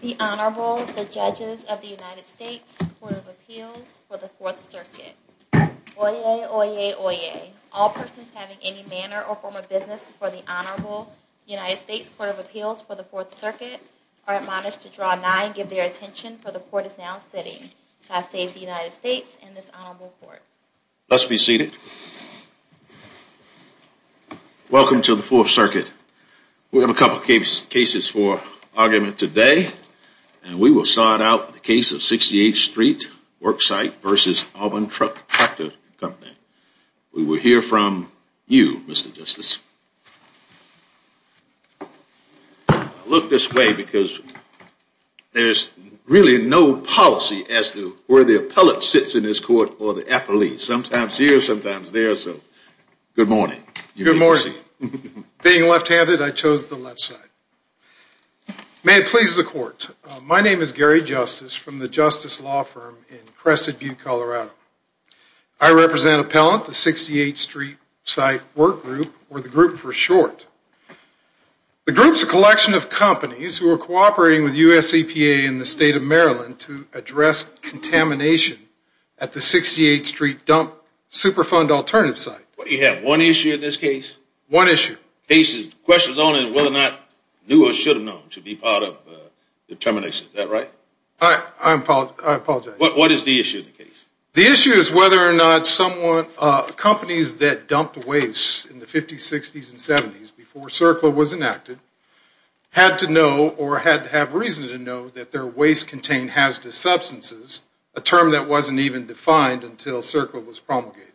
The Honorable, the Judges of the United States Court of Appeals for the Fourth Circuit. Oyez, oyez, oyez. All persons having any manner or form of business before the Honorable United States Court of Appeals for the Fourth Circuit are admonished to draw nigh and give their attention, for the Court is now sitting. God save the United States and this Honorable Court. Let's be seated. Welcome to the Fourth Circuit. We have a couple of cases for argument today, and we will start out with the case of 68th Street Worksite v. Alban Tractor Company. We will hear from you, Mr. Justice. Look this way, because there's really no policy as to where the appellate sits in this court or the appellee. Sometimes here, sometimes there, so good morning. Good morning. Being left-handed, I chose the left side. May it please the Court, my name is Gary Justice from the Justice Law Firm in Crested Butte, Colorado. I represent Appellant, the 68th Street Site Work Group, or the group for short. The group is a collection of companies who are cooperating with US EPA in the state of Maryland to address contamination at the 68th Street dump super fund alternative site. The issue is whether or not companies that dumped waste in the 50s, 60s, and 70s before CERCLA was enacted had to know or had to have reason to know that their waste contained hazardous substances, a term that wasn't even defined until CERCLA was promulgated.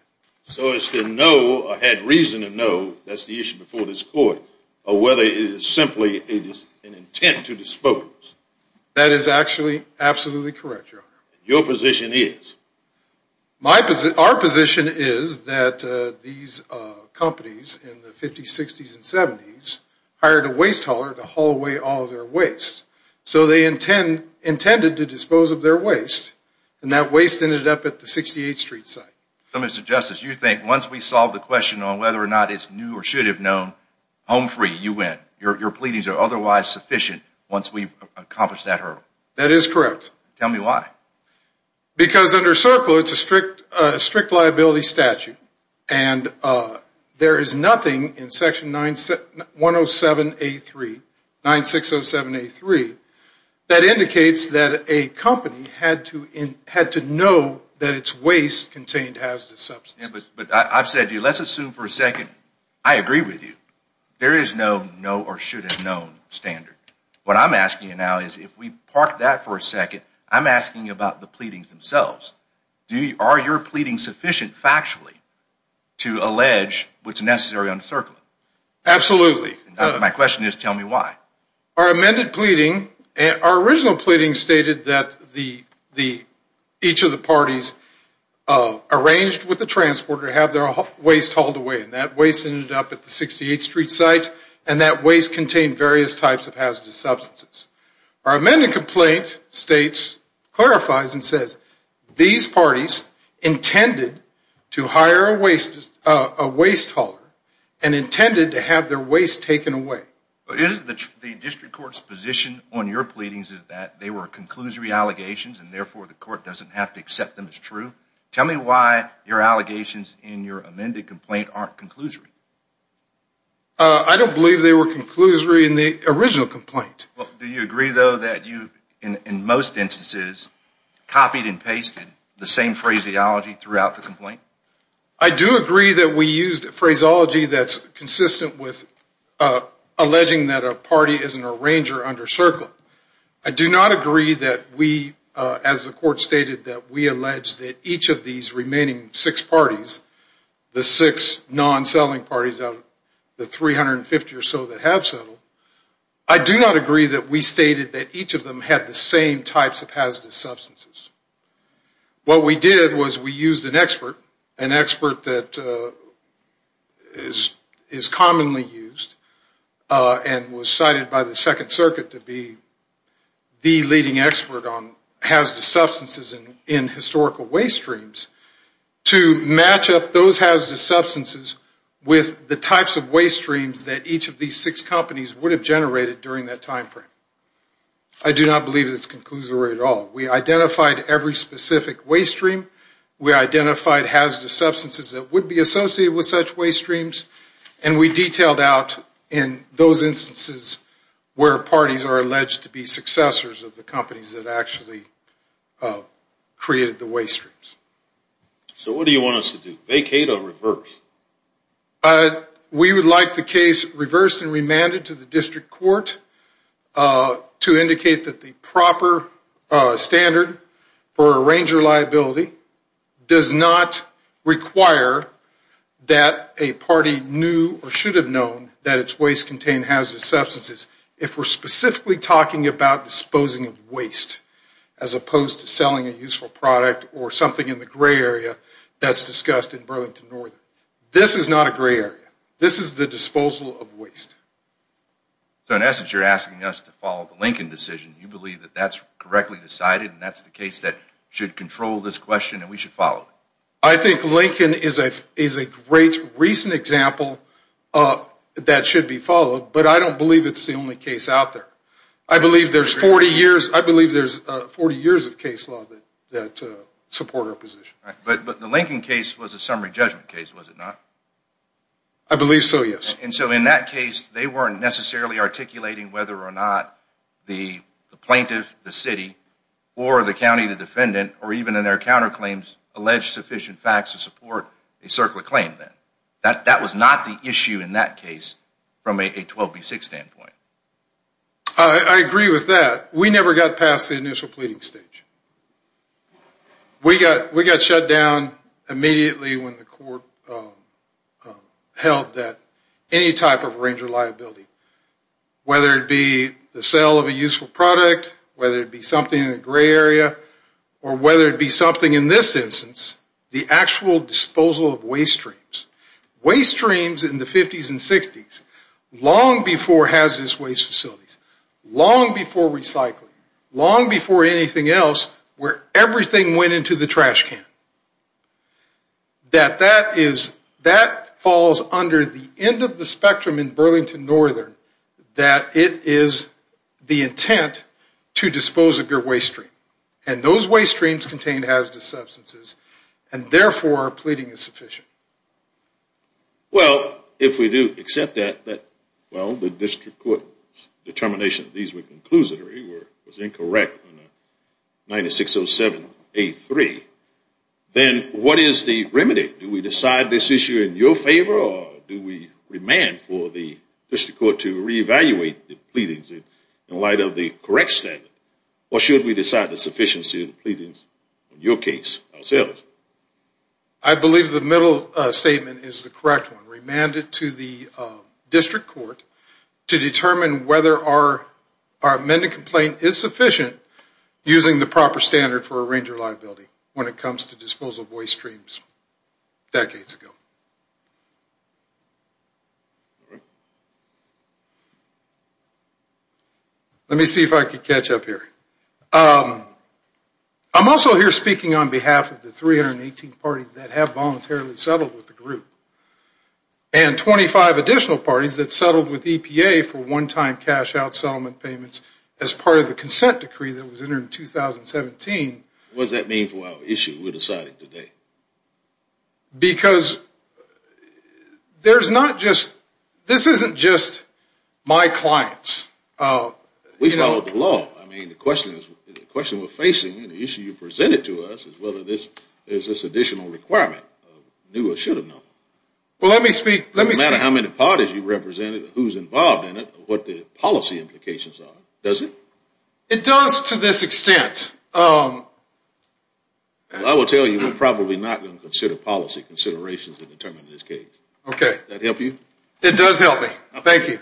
So it's to know or had reason to know, that's the issue before this court, or whether it is simply an intent to dispose. That is actually absolutely correct, Your Honor. Your position is? Our position is that these companies in the 50s, 60s, and 70s hired a waste hauler to haul away all their waste. So they intended to dispose of their waste, and that waste ended up at the 68th Street site. So Mr. Justice, you think once we solve the question on whether or not it's new or should have known, home free, you win. Your pleadings are otherwise sufficient once we've accomplished that hurdle. That is correct. Tell me why. Because under CERCLA, it's a strict liability statute. And there is nothing in section 107A3, 9607A3, that indicates that a company had to know that its waste contained hazardous substances. But I've said to you, let's assume for a second, I agree with you. There is no know or should have known standard. What I'm asking you now is, if we park that for a second, I'm asking about the pleadings themselves. Are your pleadings sufficient factually to allege what's necessary under CERCLA? Absolutely. My question is, tell me why. Our amended pleading, our original pleading stated that each of the parties arranged with the transporter to have their waste hauled away. And that waste ended up at the 68th Street site, and that waste contained various types of hazardous substances. Our amended complaint states, clarifies and says, these parties intended to hire a waste hauler and intended to have their waste taken away. The district court's position on your pleadings is that they were conclusory allegations, and therefore the court doesn't have to accept them as true. Tell me why your allegations in your amended complaint aren't conclusory. I don't believe they were conclusory in the original complaint. Do you agree, though, that you, in most instances, copied and pasted the same phraseology throughout the complaint? I do agree that we used phraseology that's consistent with alleging that a party is an arranger under CERCLA. I do not agree that we, as the court stated, that we allege that each of these remaining six parties, the six non-selling parties out of the 350 or so that have settled, I do not agree that we stated that each of them had the same types of hazardous substances. What we did was we used an expert, an expert that is commonly used and was cited by the Second Circuit to be the leading expert on hazardous substances in historical waste streams, to match up those hazardous substances with the types of waste streams that each of these six companies would have generated during that time frame. I do not believe it's conclusory at all. We identified every specific waste stream. We identified hazardous substances that would be associated with such waste streams. And we detailed out in those instances where parties are alleged to be successors of the companies that actually created the waste streams. So what do you want us to do, vacate or reverse? We would like the case reversed and remanded to the district court to indicate that the proper standard for arranger liability does not require that a party knew or should have known that its waste contained hazardous substances. If we're specifically talking about disposing of waste as opposed to selling a useful product or something in the gray area that's discussed in Burlington Northern. This is not a gray area. This is the disposal of waste. So in essence you're asking us to follow the Lincoln decision. You believe that that's correctly decided and that's the case that should control this question and we should follow it? I think Lincoln is a great recent example that should be followed, but I don't believe it's the only case out there. I believe there's 40 years of case law that support our position. But the Lincoln case was a summary judgment case, was it not? I believe so, yes. And so in that case they weren't necessarily articulating whether or not the plaintiff, the city, or the county, the defendant, or even in their counterclaims alleged sufficient facts to support a circular claim then. That was not the issue in that case from a 12B6 standpoint. I agree with that. We never got past the initial pleading stage. We got shut down immediately when the court held that any type of range of liability, whether it be the sale of a useful product, whether it be something in the gray area, or whether it be something in this instance, the actual disposal of waste streams. Waste streams in the 50s and 60s, long before hazardous waste facilities, long before recycling, long before anything else where everything went into the trash can, that that falls under the end of the spectrum in Burlington Northern that it is the intent to dispose of your waste stream. And those waste streams contain hazardous substances, and therefore pleading is sufficient. Well, if we do accept that, well, the district court's determination that these were conclusory was incorrect in 9607A3, then what is the remedy? Do we decide this issue in your favor, or do we remand for the district court to reevaluate the pleadings in light of the correct standard? Or should we decide the sufficiency of the pleadings in your case ourselves? I believe the middle statement is the correct one. Remand it to the district court to determine whether our amended complaint is sufficient using the proper standard for a range of liability when it comes to disposal of waste streams decades ago. Let me see if I can catch up here. I'm also here speaking on behalf of the 318 parties that have voluntarily settled with the group, and 25 additional parties that settled with EPA for one-time cash out settlement payments as part of the consent decree that was entered in 2017. What does that mean for our issue we're deciding today? Because there's not just, this isn't just my clients. We followed the law. I mean, the question we're facing, the issue you presented to us, is whether there's this additional requirement of new or should have known. Well, let me speak. No matter how many parties you represented, who's involved in it, what the policy implications are, does it? It does to this extent. I will tell you we're probably not going to consider policy considerations to determine this case. Okay. Does that help you? It does help me. Thank you.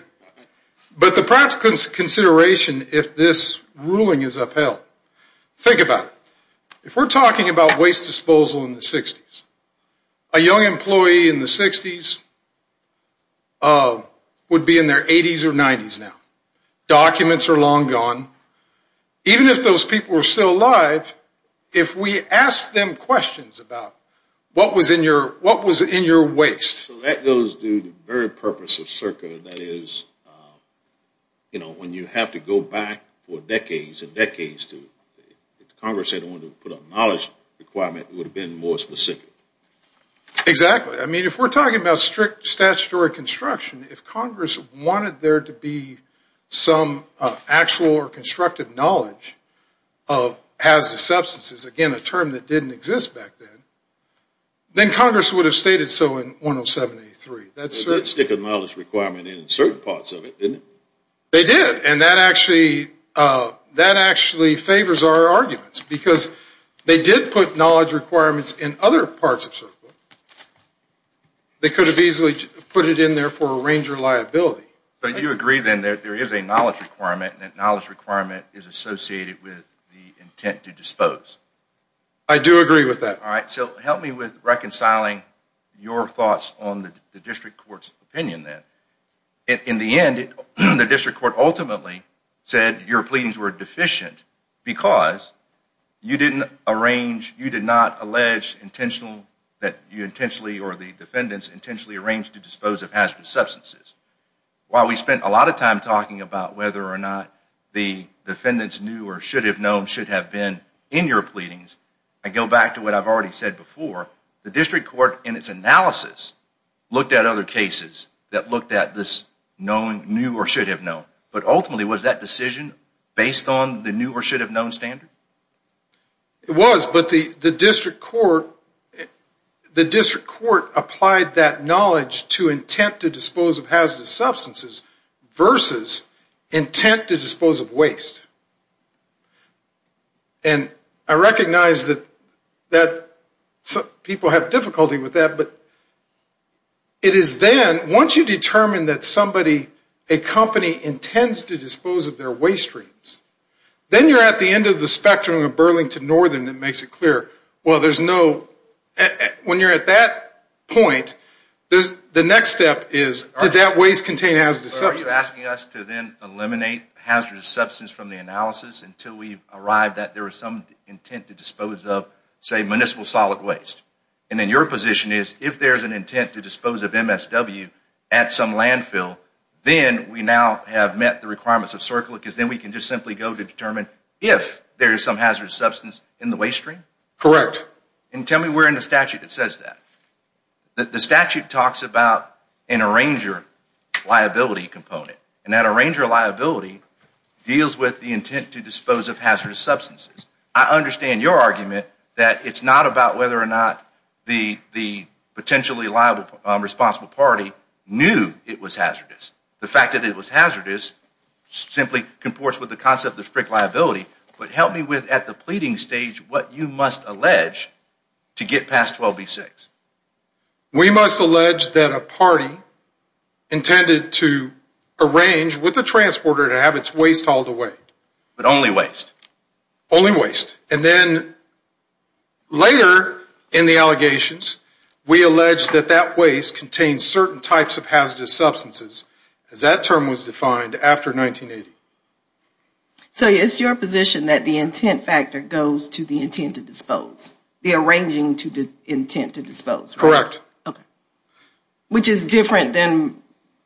But the practical consideration if this ruling is upheld, think about it. If we're talking about waste disposal in the 60s, a young employee in the 60s would be in their 80s or 90s now. Documents are long gone. Even if those people were still alive, if we asked them questions about what was in your waste. So that goes to the very purpose of CERCA, that is, you know, when you have to go back for decades and decades to, if Congress had wanted to put a knowledge requirement, it would have been more specific. Exactly. I mean, if we're talking about strict statutory construction, if Congress wanted there to be some actual or constructive knowledge of hazardous They did stick a knowledge requirement in certain parts of it, didn't they? They did. And that actually favors our arguments because they did put knowledge requirements in other parts of CERCA. They could have easily put it in there for a range of liability. But you agree then that there is a knowledge requirement and that knowledge requirement is associated with the intent to dispose. I do agree with that. All right, so help me with reconciling your thoughts on the district court's opinion then. In the end, the district court ultimately said your pleadings were deficient because you didn't arrange, you did not allege intentional, that you intentionally or the defendants intentionally arranged to dispose of hazardous substances. While we spent a lot of time talking about whether or not the defendants knew or should have known, should have been in your pleadings, I go back to what I've already said before. The district court in its analysis looked at other cases that looked at this knowing, knew or should have known. But ultimately, was that decision based on the knew or should have known standard? It was, but the district court applied that knowledge to intent to dispose of hazardous substances versus intent to dispose of waste. And I recognize that people have difficulty with that, but it is then, once you determine that somebody, a company intends to dispose of their waste streams, then you're at the end of the spectrum of Burlington Northern that makes it clear, well, there's no, when you're at that point, the next step is, did that waste contain hazardous substances? Are you asking us to then eliminate hazardous substance from the analysis until we arrive that there is some intent to dispose of, say, municipal solid waste? And then your position is, if there's an intent to dispose of MSW at some landfill, then we now have met the requirements of CERCLA because then we can just simply go to determine if there is some hazardous substance in the waste stream? Correct. And tell me where in the statute it says that. The statute talks about an arranger liability component, and that arranger liability deals with the intent to dispose of hazardous substances. I understand your argument that it's not about whether or not the potentially liable responsible party knew it was hazardous. The fact that it was hazardous simply comports with the concept of strict liability, but help me with, at the pleading stage, what you must allege to get past 12B-6. We must allege that a party intended to arrange with the transporter to have its waste hauled away. But only waste. Only waste. And then later in the allegations, we allege that that waste contains certain types of hazardous substances, as that term was defined after 1980. So it's your position that the intent factor goes to the intent to dispose? The arranging to the intent to dispose? Correct. Okay. Which is different than,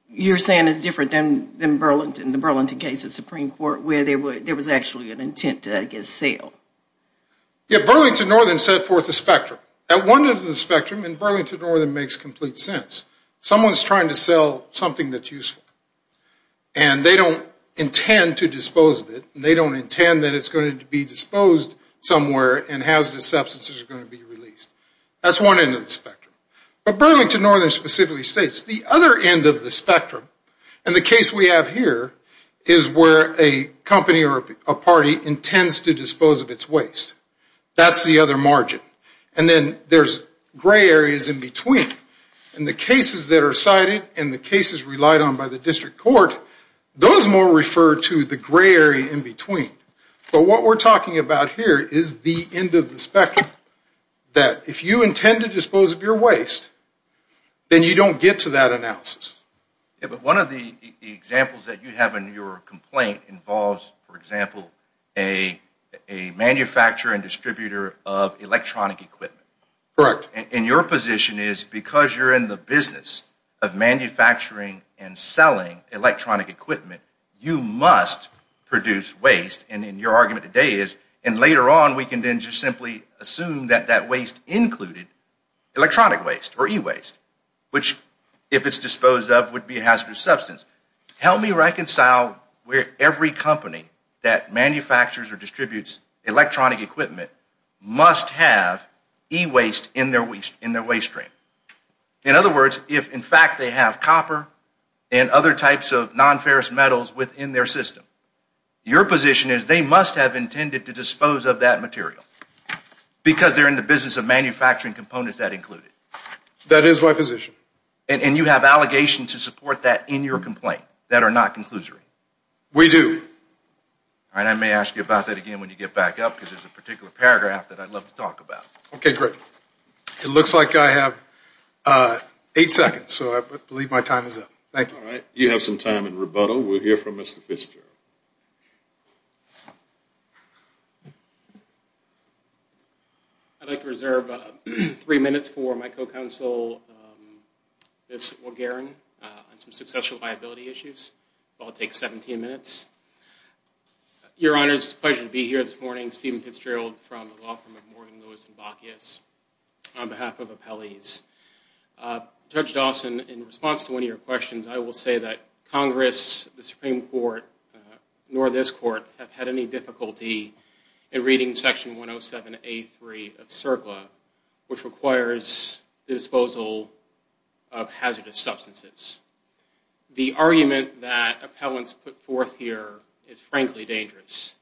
you're saying is different than Burlington, the Burlington case at Supreme Court, where there was actually an intent to, I guess, sell? Yeah, Burlington Northern set forth a spectrum. At one end of the spectrum, and Burlington Northern makes complete sense, someone's trying to sell something that's useful. And they don't intend to dispose of it, and they don't intend that it's going to be disposed somewhere and hazardous substances are going to be released. That's one end of the spectrum. But Burlington Northern specifically states the other end of the spectrum, and the case we have here is where a company or a party intends to dispose of its waste. That's the other margin. And then there's gray areas in between. And the cases that are cited and the cases relied on by the district court, those more refer to the gray area in between. But what we're talking about here is the end of the spectrum, that if you intend to dispose of your waste, then you don't get to that analysis. Yeah, but one of the examples that you have in your complaint involves, for example, a manufacturer and distributor of electronic equipment. Correct. And your position is, because you're in the business of manufacturing and selling electronic equipment, you must produce waste. And your argument today is, and later on we can then just simply assume that that waste included electronic waste or e-waste, which, if it's disposed of, would be a hazardous substance. Help me reconcile where every company that manufactures or distributes electronic equipment must have e-waste in their waste stream. In other words, if in fact they have copper and other types of nonferrous metals within their system, your position is they must have intended to dispose of that material because they're in the business of manufacturing components that include it. That is my position. And you have allegations to support that in your complaint that are not conclusory. We do. All right, I may ask you about that again when you get back up because there's a particular paragraph that I'd love to talk about. Okay, great. It looks like I have eight seconds, so I believe my time is up. Thank you. All right, you have some time in rebuttal. We'll hear from Mr. Fitzgerald. I'd like to reserve three minutes for my co-counsel, Ms. Wolgaren, on some successful liability issues. It will all take 17 minutes. Your Honors, it's a pleasure to be here this morning. Steven Fitzgerald from the law firm of Morgan, Lewis, and Bacchius on behalf of Appellees. Judge Dawson, in response to one of your questions, I will say that Congress, the Supreme Court, nor this Court, have had any difficulty in reading Section 107A3 of CERCLA, which requires the disposal of hazardous substances. The argument that appellants put forth here is frankly dangerous.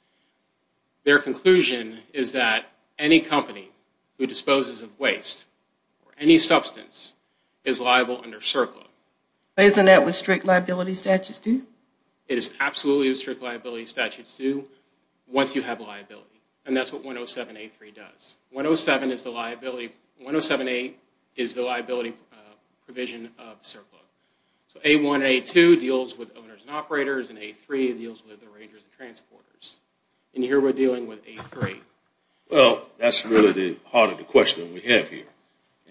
Their conclusion is that any company who disposes of waste or any substance is liable under CERCLA. Isn't that what strict liability statutes do? It is absolutely what strict liability statutes do once you have liability, and that's what 107A3 does. 107A is the liability provision of CERCLA. So 107A1 and 107A2 deals with owners and operators, and 107A3 deals with arrangers and transporters. And here we're dealing with 107A3. Well, that's really the heart of the question we have here.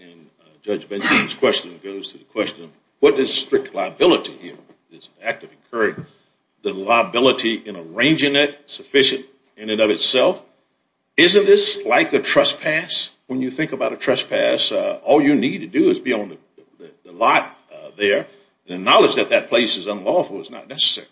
And Judge Benson's question goes to the question, what is strict liability here? It's an act of incurring the liability in arranging it, sufficient in and of itself. Isn't this like a trespass? When you think about a trespass, all you need to do is be on the lot there. The knowledge that that place is unlawful is not necessary.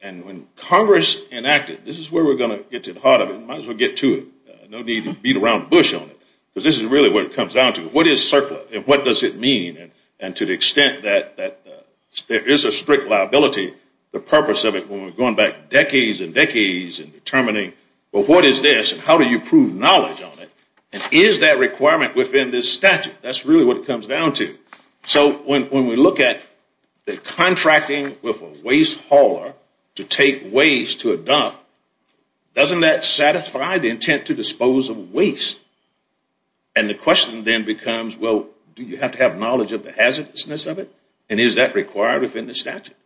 And when Congress enacted, this is where we're going to get to the heart of it, might as well get to it. No need to beat around the bush on it, because this is really where it comes down to. What is CERCLA, and what does it mean? And to the extent that there is a strict liability, the purpose of it, when we're going back decades and decades and determining, well, what is this and how do you prove knowledge on it? And is that requirement within this statute? That's really what it comes down to. So when we look at the contracting with a waste hauler to take waste to a dump, doesn't that satisfy the intent to dispose of waste? And the question then becomes, well, do you have to have knowledge of the hazardousness of it? And is that required within the statute?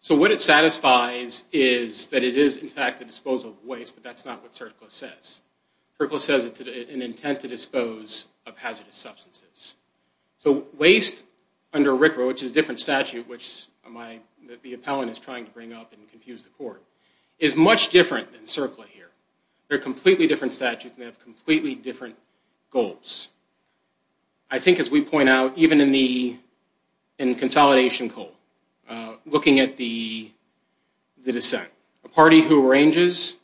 So what it satisfies is that it is, in fact, a disposal of waste, but that's not what CERCLA says. CERCLA says it's an intent to dispose of hazardous substances. So waste under RCRA, which is a different statute, which the appellant is trying to bring up and confuse the court, is much different than CERCLA here. They're completely different statutes and they have completely different goals. I think, as we point out, even in consolidation coal, looking at the dissent, a party who arranges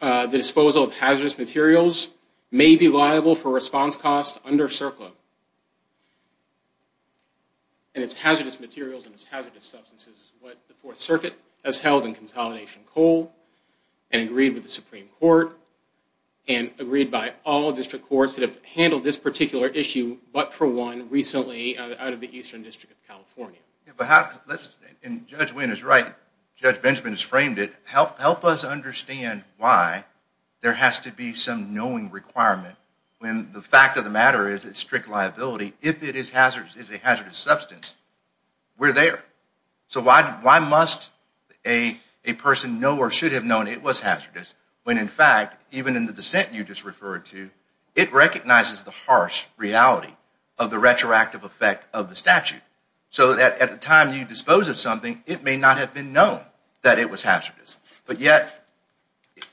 the disposal of hazardous materials may be liable for response costs under CERCLA. And it's hazardous materials and it's hazardous substances is what the Fourth Circuit has held in consolidation coal and agreed with the Supreme Court and agreed by all district courts that have handled this particular issue, but for one recently out of the Eastern District of California. And Judge Wynn is right. Judge Benjamin has framed it. Help us understand why there has to be some knowing requirement when the fact of the matter is it's strict liability. If it is a hazardous substance, we're there. So why must a person know or should have known it was hazardous when, in fact, even in the dissent you just referred to, it recognizes the harsh reality of the retroactive effect of the statute. So at the time you dispose of something, it may not have been known that it was hazardous, but yet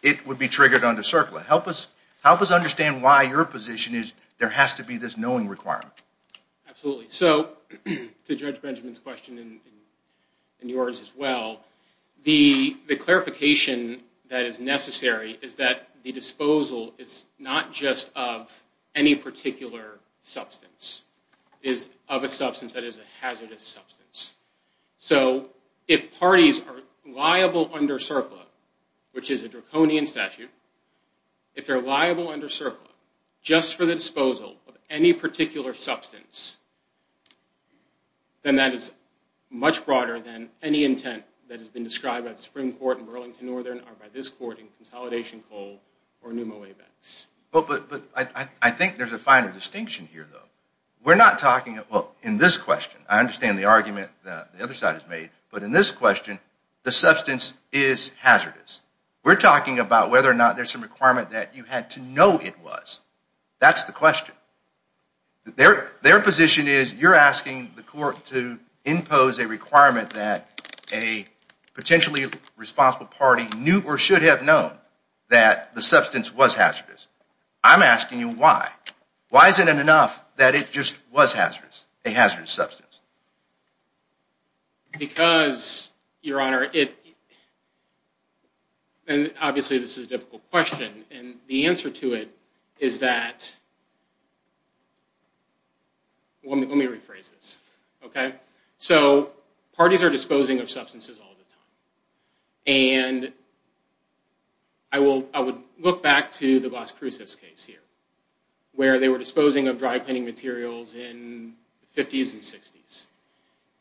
it would be triggered under CERCLA. Help us understand why your position is there has to be this knowing requirement. Absolutely. So to Judge Benjamin's question and yours as well, the clarification that is necessary is that the disposal is not just of any particular substance. It is of a substance that is a hazardous substance. So if parties are liable under CERCLA, which is a draconian statute, if they're liable under CERCLA just for the disposal of any particular substance, then that is much broader than any intent that has been described by the Supreme Court in Burlington Northern or by this court in Consolidation Coal or NUMO-ABEX. But I think there's a finer distinction here, though. We're not talking, well, in this question, I understand the argument that the other side has made, but in this question, the substance is hazardous. We're talking about whether or not there's some requirement that you had to know it was. That's the question. Their position is you're asking the court to impose a requirement that a potentially responsible party knew or should have known that the substance was hazardous. I'm asking you why. Why is it enough that it just was hazardous, a hazardous substance? Because, Your Honor, and obviously this is a difficult question, and the answer to it is that, well, let me rephrase this, okay? So parties are disposing of substances all the time. And I would look back to the Las Cruces case here, where they were disposing of dry cleaning materials in the 50s and 60s.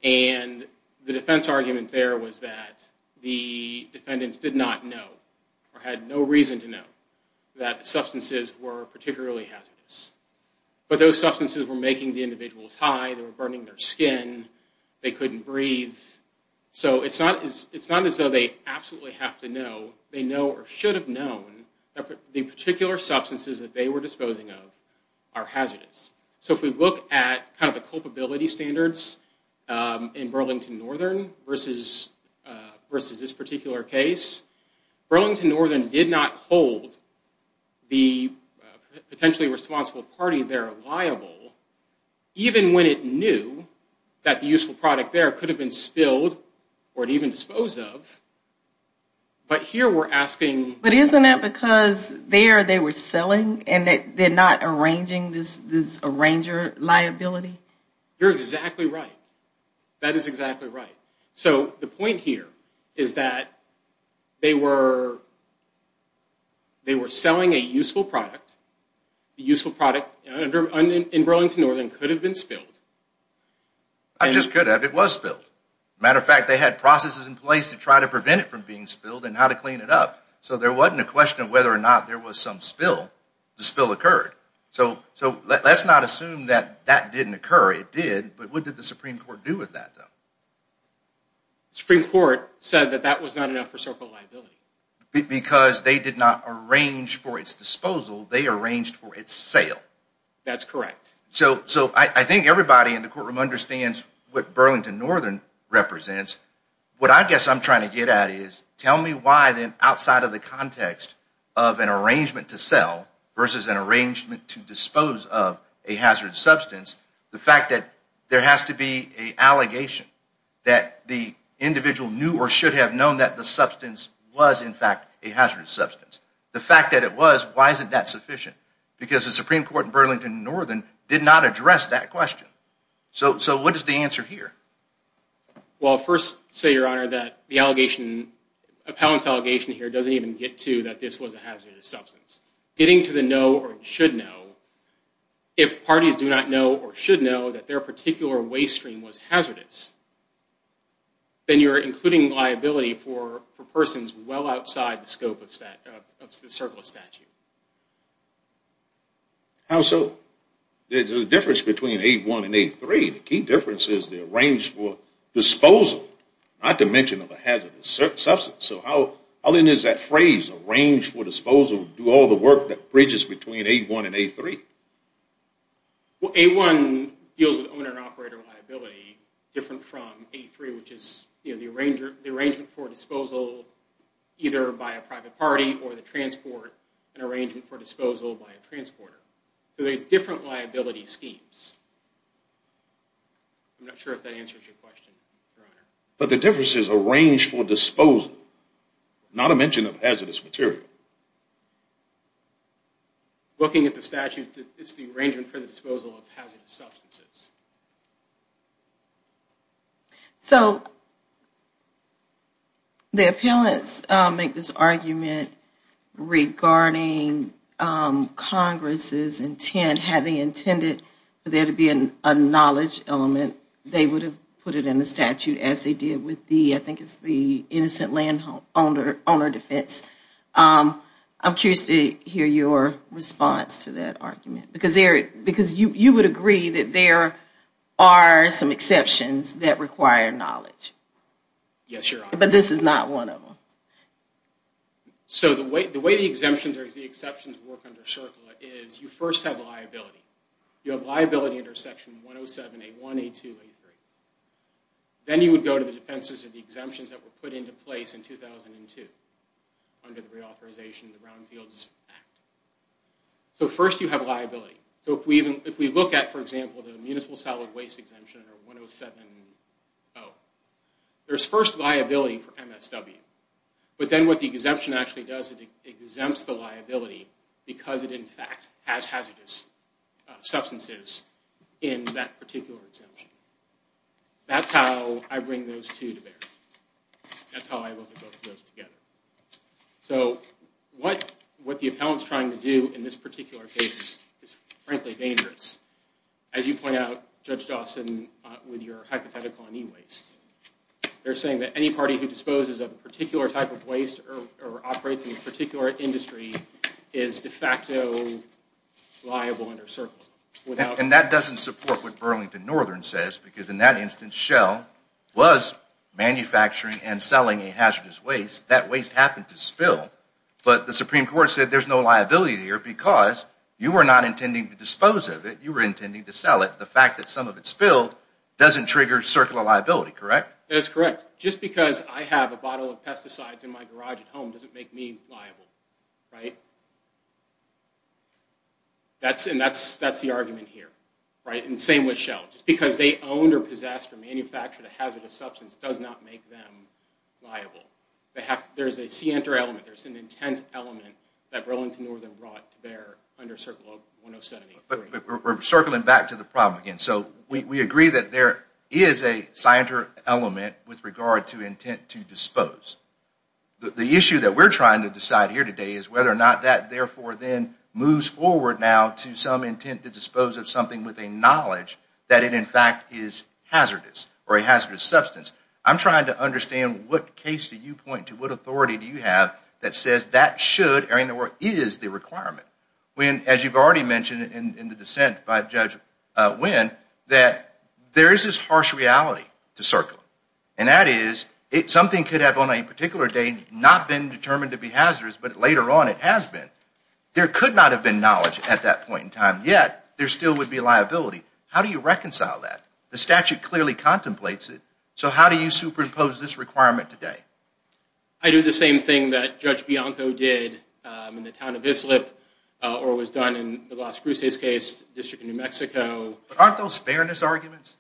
And the defense argument there was that the defendants did not know or had no reason to know that the substances were particularly hazardous. But those substances were making the individuals high. They were burning their skin. They couldn't breathe. So it's not as though they absolutely have to know. They know or should have known that the particular substances that they were disposing of are hazardous. So if we look at kind of the culpability standards in Burlington Northern versus this particular case, Burlington Northern did not hold the potentially responsible party there liable, even when it knew that the useful product there could have been spilled or even disposed of. But here we're asking... But isn't it because there they were selling and they're not arranging this arranger liability? You're exactly right. That is exactly right. So the point here is that they were selling a useful product. The useful product in Burlington Northern could have been spilled. It just could have. It was spilled. Matter of fact, they had processes in place to try to prevent it from being spilled and how to clean it up. So there wasn't a question of whether or not there was some spill. The spill occurred. So let's not assume that that didn't occur. It did. But what did the Supreme Court do with that, though? The Supreme Court said that that was not enough for circle liability. Because they did not arrange for its disposal. They arranged for its sale. That's correct. So I think everybody in the courtroom understands what Burlington Northern represents. What I guess I'm trying to get at is tell me why then outside of the context of an arrangement to sell versus an arrangement to dispose of a hazardous substance, the fact that there has to be an allegation that the individual knew or should have known that the substance was, in fact, a hazardous substance. The fact that it was, why isn't that sufficient? Because the Supreme Court in Burlington Northern did not address that question. So what is the answer here? Well, I'll first say, Your Honor, that the appellant's allegation here doesn't even get to that this was a hazardous substance. Getting to the know or should know, if parties do not know or should know that their particular waste stream was hazardous, then you're including liability for persons well outside the scope of the circle of statute. How so? There's a difference between A1 and A3. The key difference is the arranged for disposal, not to mention of a hazardous substance. So how then is that phrase, arranged for disposal, do all the work that bridges between A1 and A3? Well, A1 deals with owner-operator liability different from A3, which is the arrangement for disposal either by a private party or the transport, an arrangement for disposal by a transporter. So they're different liability schemes. I'm not sure if that answers your question, Your Honor. But the difference is arranged for disposal, not a mention of hazardous material. Looking at the statute, it's the arrangement for the disposal of hazardous substances. So the appellants make this argument regarding Congress's intent, had they intended for there to be a knowledge element, they would have put it in the statute as they did with the, I think it's the innocent landowner defense. I'm curious to hear your response to that argument. Because you would agree that there are some exceptions that require knowledge. Yes, Your Honor. But this is not one of them. So the way the exemptions work under CERCLA is you first have liability. You have liability under Section 107A1, A2, A3. Then you would go to the defenses of the exemptions that were put into place in 2002. Under the reauthorization of the Brownfields Act. So first you have liability. So if we look at, for example, the Municipal Solid Waste Exemption or 107-0. There's first liability for MSW. But then what the exemption actually does, it exempts the liability because it in fact has hazardous substances in that particular exemption. That's how I bring those two to bear. That's how I look at both of those together. So what the appellant's trying to do in this particular case is frankly dangerous. As you point out, Judge Dawson, with your hypothetical on e-waste. They're saying that any party who disposes of a particular type of waste or operates in a particular industry is de facto liable under CERCLA. And that doesn't support what Burlington Northern says because in that instance Shell was manufacturing and selling a hazardous waste. That waste happened to spill. But the Supreme Court said there's no liability here because you were not intending to dispose of it. You were intending to sell it. The fact that some of it spilled doesn't trigger CERCLA liability, correct? That's correct. Just because I have a bottle of pesticides in my garage at home doesn't make me liable. And that's the argument here. And same with Shell. Just because they owned or possessed or manufactured a hazardous substance does not make them liable. There's a scienter element, there's an intent element that Burlington Northern brought to bear under CERCLA 1073. But we're circling back to the problem again. So we agree that there is a scienter element with regard to intent to dispose. The issue that we're trying to decide here today is whether or not that therefore then moves forward now to some intent to dispose of something with a knowledge that it in fact is hazardous or a hazardous substance. I'm trying to understand what case do you point to, what authority do you have that says that should or is the requirement. As you've already mentioned in the dissent by Judge Wynn, that there is this harsh reality to CERCLA. And that is something could have on a particular date not been determined to be hazardous, but later on it has been. There could not have been knowledge at that point in time. And yet there still would be liability. How do you reconcile that? The statute clearly contemplates it. So how do you superimpose this requirement today? I do the same thing that Judge Bianco did in the town of Islip or was done in the Las Cruces case, District of New Mexico. But aren't those fairness arguments?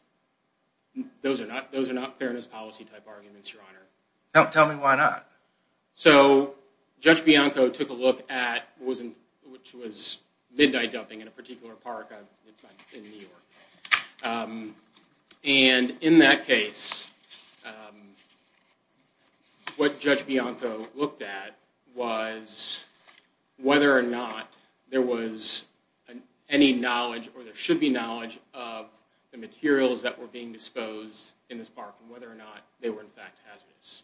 Those are not fairness policy type arguments, Your Honor. Tell me why not. So Judge Bianco took a look at what was midnight dumping in a particular park in New York. And in that case, what Judge Bianco looked at was whether or not there was any knowledge or there should be knowledge of the materials that were being disposed in this park and whether or not they were in fact hazardous.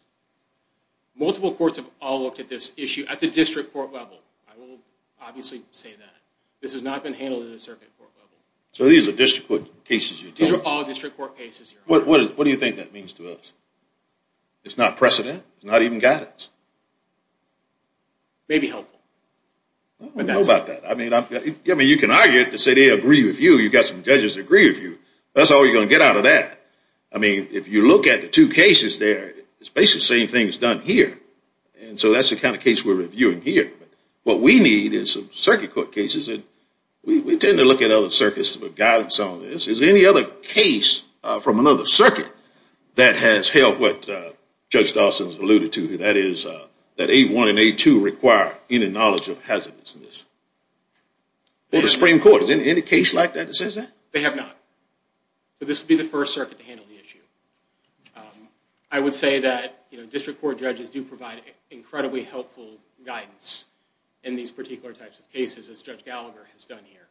Multiple courts have all looked at this issue at the district court level. I will obviously say that. This has not been handled at the circuit court level. So these are district court cases? These are all district court cases, Your Honor. What do you think that means to us? It's not precedent? It's not even guidance? It may be helpful. I don't know about that. You can argue it and say they agree with you. You've got some judges that agree with you. That's all you're going to get out of that. I mean, if you look at the two cases there, it's basically the same thing that's done here. So that's the kind of case we're reviewing here. What we need is circuit court cases. We tend to look at other circuits for guidance on this. Is there any other case from another circuit that has held what Judge Dawson alluded to, that is that A1 and A2 require any knowledge of hazardousness? Well, the Supreme Court. Is there any case like that that says that? They have not. So this would be the first circuit to handle the issue. I would say that district court judges do provide incredibly helpful guidance in these particular types of cases, as Judge Gallagher has done here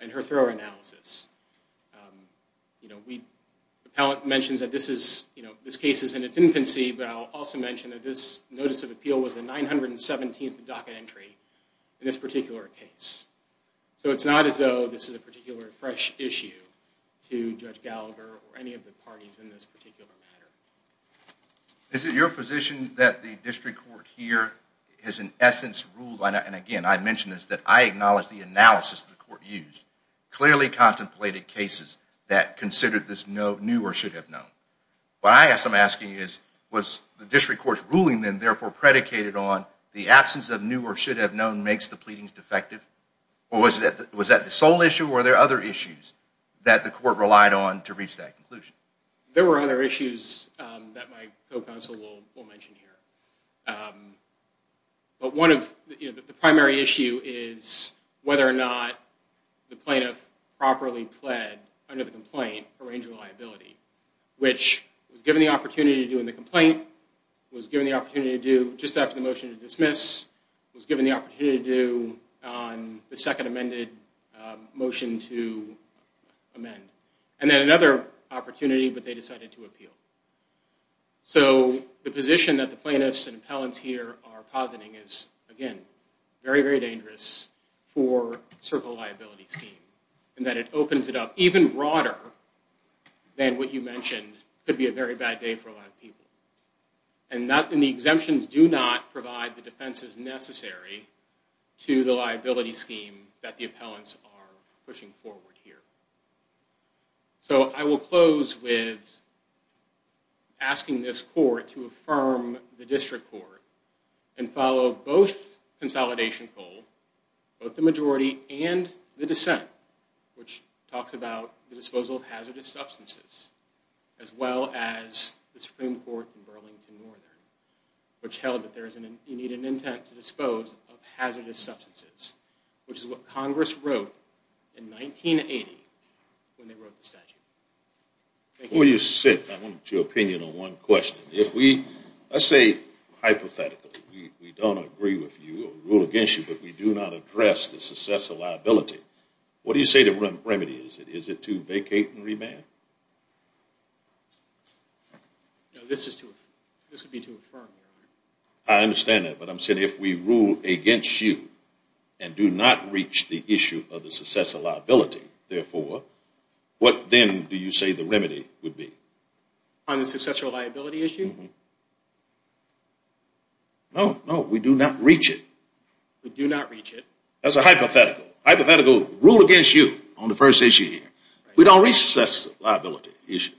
in her thorough analysis. The appellate mentions that this case is in its infancy, but I'll also mention that this notice of appeal was the 917th docket entry in this particular case. So it's not as though this is a particular fresh issue to Judge Gallagher or any of the parties in this particular matter. Is it your position that the district court here has in essence ruled, and again I mention this, that I acknowledge the analysis the court used, clearly contemplated cases that considered this new or should have known? What I am asking is, was the district court's ruling then therefore predicated on the absence of new or should have known makes the pleadings defective, or was that the sole issue, or were there other issues that the court relied on to reach that conclusion? There were other issues that my co-counsel will mention here. But the primary issue is whether or not the plaintiff properly pled under the complaint a range of liability, which was given the opportunity to do in the complaint, was given the opportunity to do just after the motion to dismiss, was given the opportunity to do on the second amended motion to amend. And then another opportunity, but they decided to appeal. So the position that the plaintiffs and appellants here are positing is, again, very, very dangerous for Circle of Liability's team, in that it opens it up even broader than what you mentioned could be a very bad day for a lot of people. And the exemptions do not provide the defenses necessary to the liability scheme that the appellants are pushing forward here. So I will close with asking this court to affirm the district court and follow both consolidation goal, both the majority and the dissent, which talks about the disposal of hazardous substances, as well as the Supreme Court in Burlington Northern, which held that you need an intent to dispose of hazardous substances, which is what Congress wrote in 1980 when they wrote the statute. Before you sit, I want your opinion on one question. Let's say hypothetically we don't agree with you or rule against you, but we do not address the success of liability. What do you say the remedy is? Is it to vacate and remand? No, this would be to affirm. I understand that, but I'm saying if we rule against you and do not reach the issue of the success of liability, therefore, what then do you say the remedy would be? On the success of liability issue? No, no, we do not reach it. We do not reach it. That's a hypothetical. Hypothetical rule against you on the first issue here. We don't reach the success of liability issue.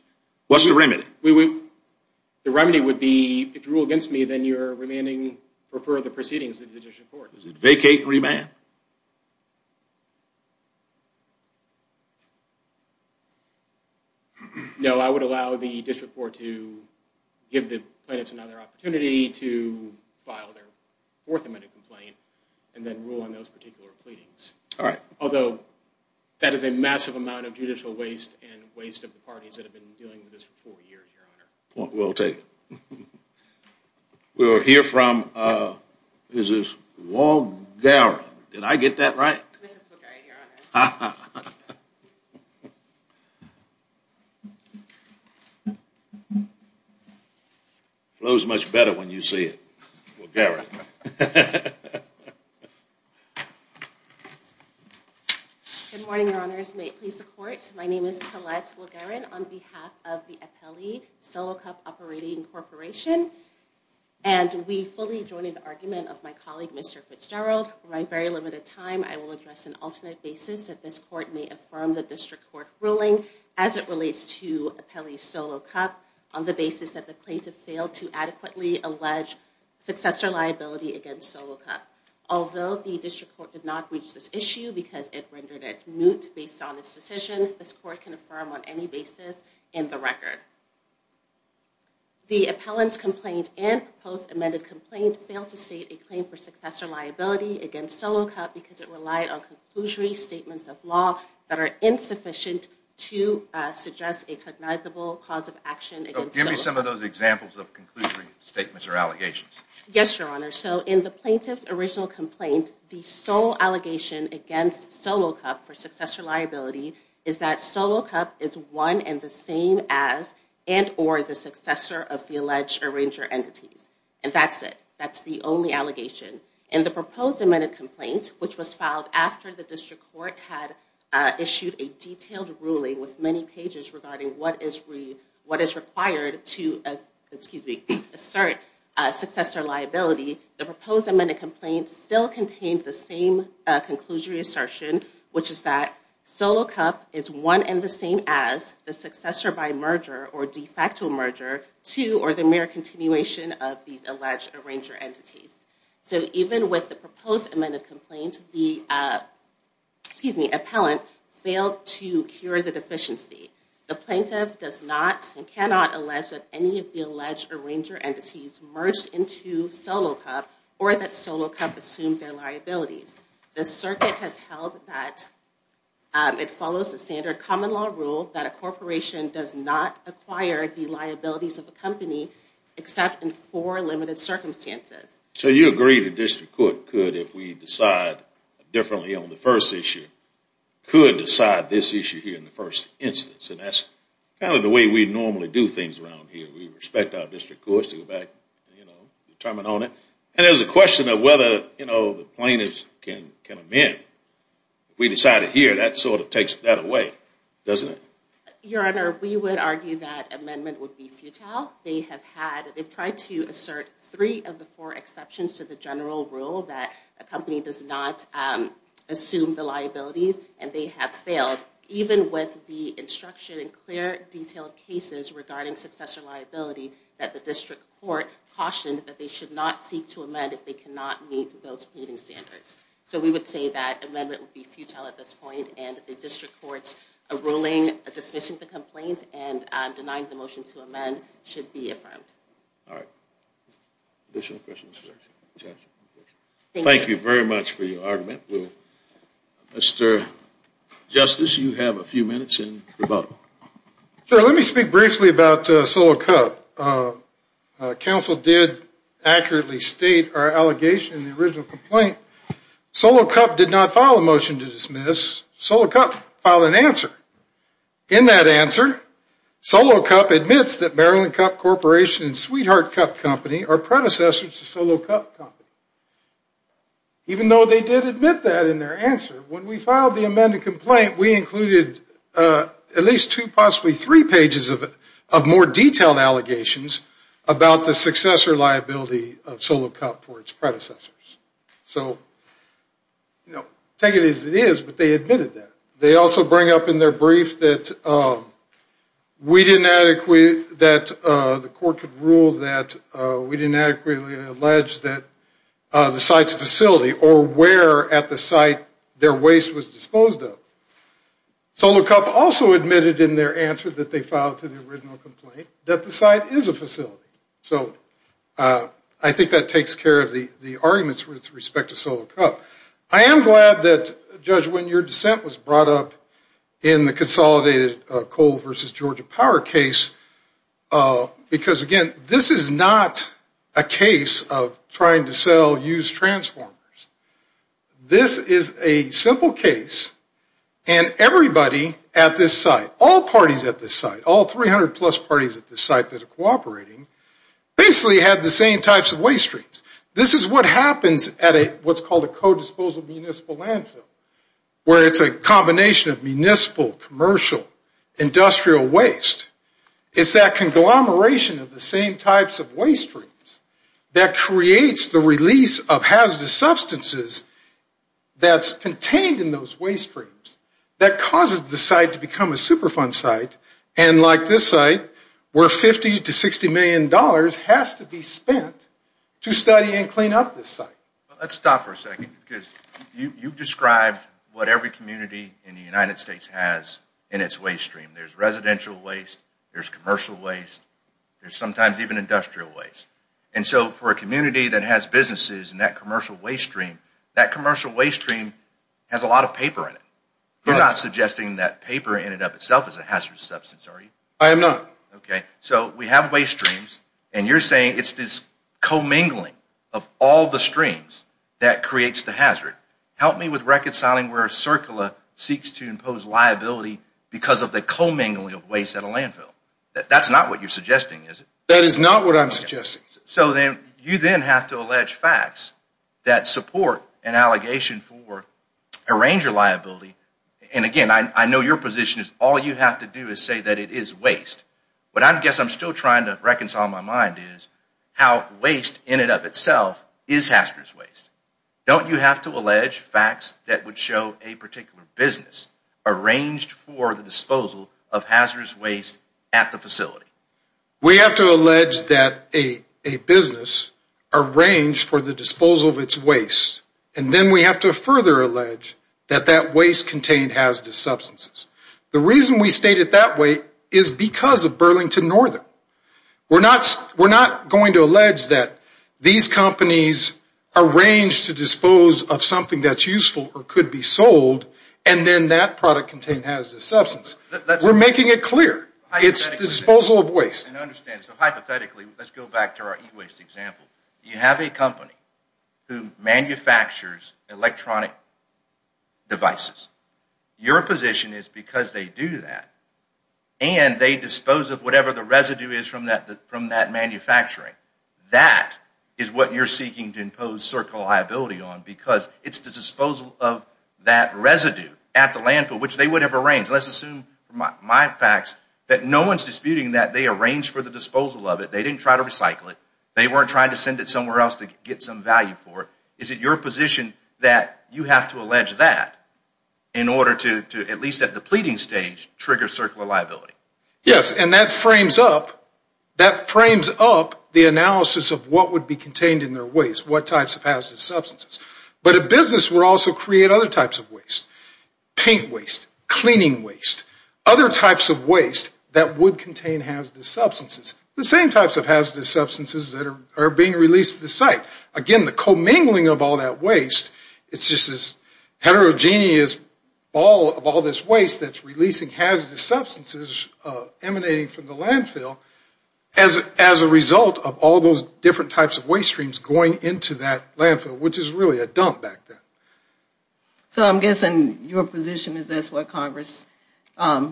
What's the remedy? The remedy would be if you rule against me, then you're remaining for further proceedings in the district court. Is it vacate and remand? No, I would allow the district court to give the plaintiffs another opportunity to file their fourth amendment complaint and then rule on those particular pleadings. Although, that is a massive amount of judicial waste and waste of the parties that have been dealing with this for four years, Your Honor. We'll take it. We'll hear from, is this, Walgara? Did I get that right? This is Walgara, Your Honor. Flows much better when you say it, Walgara. Good morning, Your Honors. May it please the court. My name is Collette Walgara on behalf of the appellee, Solo Cup Operating Corporation, and we fully join in the argument of my colleague, Mr. Fitzgerald. We're running very limited time. I will address an alternate basis. That this court may affirm the district court ruling as it relates to appellee Solo Cup on the basis that the plaintiff failed to adequately allege successor liability against Solo Cup. Although the district court did not reach this issue because it rendered it moot based on its decision, this court can affirm on any basis in the record. The appellant's complaint and proposed amended complaint failed to state a claim for successor liability against Solo Cup because it relied on conclusory statements of law that are insufficient to suggest a cognizable cause of action against Solo Cup. Give me some of those examples of conclusory statements or allegations. Yes, Your Honor. So in the plaintiff's original complaint, the sole allegation against Solo Cup for successor liability is that Solo Cup is one and the same as and or the successor of the alleged arranger entities. And that's it. That's the only allegation. In the proposed amended complaint, which was filed after the district court had issued a detailed ruling with many pages regarding what is required to assert successor liability, the proposed amended complaint still contained the same conclusory assertion, which is that Solo Cup is one and the same as the successor by merger or de facto merger to or the mere continuation of these alleged arranger entities. So even with the proposed amended complaint, the appellant failed to cure the deficiency. The plaintiff does not and cannot allege that any of the alleged arranger entities merged into Solo Cup or that Solo Cup assumed their liabilities. it follows the standard common law rule that a corporation does not acquire the liabilities of a company except in four limited circumstances. So you agree the district court could, if we decide differently on the first issue, could decide this issue here in the first instance. And that's kind of the way we normally do things around here. We respect our district courts to go back and determine on it. And there's a question of whether the plaintiffs can amend. If we decide it here, that sort of takes that away, doesn't it? Your Honor, we would argue that amendment would be futile. They have tried to assert three of the four exceptions to the general rule that a company does not assume the liabilities and they have failed, even with the instruction in clear, detailed cases regarding successor liability that the district court cautioned that they should not seek to amend if they cannot meet those pleading standards. So we would say that amendment would be futile at this point and the district court's ruling dismissing the complaint and denying the motion to amend should be affirmed. All right. Additional questions? Thank you very much for your argument. Mr. Justice, you have a few minutes in rebuttal. Sure. Let me speak briefly about Solo Cup. Council did accurately state our allegation in the original complaint. Solo Cup did not file a motion to dismiss. Solo Cup filed an answer. In that answer, Solo Cup admits that Maryland Cup Corporation and Sweetheart Cup Company are predecessors to Solo Cup Company. Even though they did admit that in their answer, when we filed the amended complaint, we included at least two, possibly three pages of more detailed allegations about the successor liability of Solo Cup for its predecessors. Take it as it is, but they admitted that. They also bring up in their brief that we didn't adequately, that the court could rule that we didn't adequately allege that the site's facility or where at the site their waste was disposed of. Solo Cup also admitted in their answer that they filed to the original complaint that the site is a facility. So I think that takes care of the arguments with respect to Solo Cup. I am glad that, Judge, when your dissent was brought up in the consolidated coal versus Georgia Power case, because again, this is not a case of trying to sell used transformers. This is a simple case and everybody at this site, all parties at this site, all 300 plus parties at this site that are cooperating basically had the same types of waste streams. This is what happens at what's called a co-disposal municipal landfill, where it's a combination of municipal, commercial, industrial waste. It's that conglomeration of the same types of waste streams that creates the release of hazardous substances that's contained in those waste streams that causes the site to become a Superfund site and like this site, where 50 to 60 million dollars has to be spent to study and clean up this site. Let's stop for a second because you've described what every community in the United States has in its waste stream. There's residential waste, there's commercial waste, there's sometimes even industrial waste. And so for a community that has businesses in that commercial waste stream, that commercial waste stream has a lot of paper in it. You're not suggesting that paper in and of itself is a hazardous substance, are you? I am not. Okay, so we have waste streams and you're saying it's this commingling of all the streams that creates the hazard. Help me with reconciling where CERCLA seeks to impose liability because of the commingling of waste at a landfill. That's not what you're suggesting, is it? That is not what I'm suggesting. So then you then have to allege facts that support an allegation for arranger liability and again, I know your position is all you have to do is say that it is waste. But I guess I'm still trying to reconcile my mind is how waste in and of itself is hazardous waste. Don't you have to allege facts that would show a particular business arranged for the disposal of hazardous waste at the facility? We have to allege that a business arranged for the disposal of its waste and then we have to further allege that that waste contained hazardous substances. The reason we state it that way is because of Burlington Northern. We're not going to allege that these companies arranged to dispose of something that's useful or could be sold and then that product contained hazardous substance. We're making it clear. It's the disposal of waste. I understand. So hypothetically, let's go back to our e-waste example. You have a company who manufactures electronic devices. Your position is because they do that and they dispose of whatever the residue is from that manufacturing. That is what you're seeking to impose certain liability on because it's the disposal of that My facts that no one's disputing that they arranged for the disposal of it. They didn't try to recycle it. They weren't trying to send it somewhere else to get some value for it. Is it your position that you have to allege that in order to at least at the pleading stage trigger certain liability? Yes, and that frames up the analysis of what would be contained in their waste, what types of hazardous substances. But a business would also create other types of waste. Paint waste, cleaning waste, other types of waste that would contain hazardous substances. The same types of hazardous substances that are being released to the site. Again, the commingling of all that waste it's just this heterogeneous ball of all this waste that's releasing hazardous substances emanating from the landfill as a result of all those different types of waste streams going into that landfill, which is really a dump back there. So I'm guessing your position is that's what Congress, so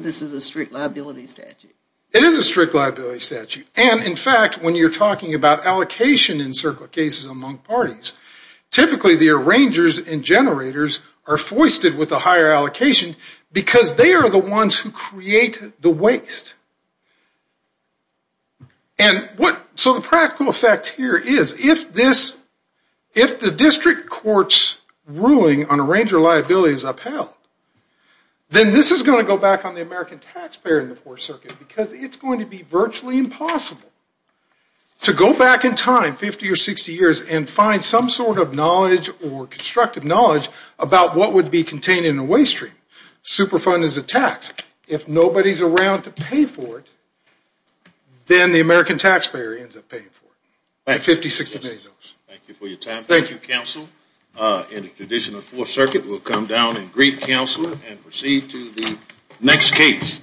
this is a strict liability statute. It is a strict liability statute. And in fact, when you're talking about allocation in certain cases among parties, typically the arrangers and generators are foisted with a higher allocation because they are the ones who create the waste. So the practical effect here is if the district court's ruling on arranger liability is upheld then this is going to go back on the American taxpayer in the Fourth Circuit because it's going to be virtually impossible to go back in time 50 or 60 years and find some sort of knowledge or constructive knowledge about what would be contained in a waste stream. Superfund is a tax. If nobody's around to pay for it, then the American taxpayer has to pay those. Thank you for your time. Thank you, Counsel. In the tradition of Fourth Circuit, we'll come down and greet Counselor and proceed to the next case.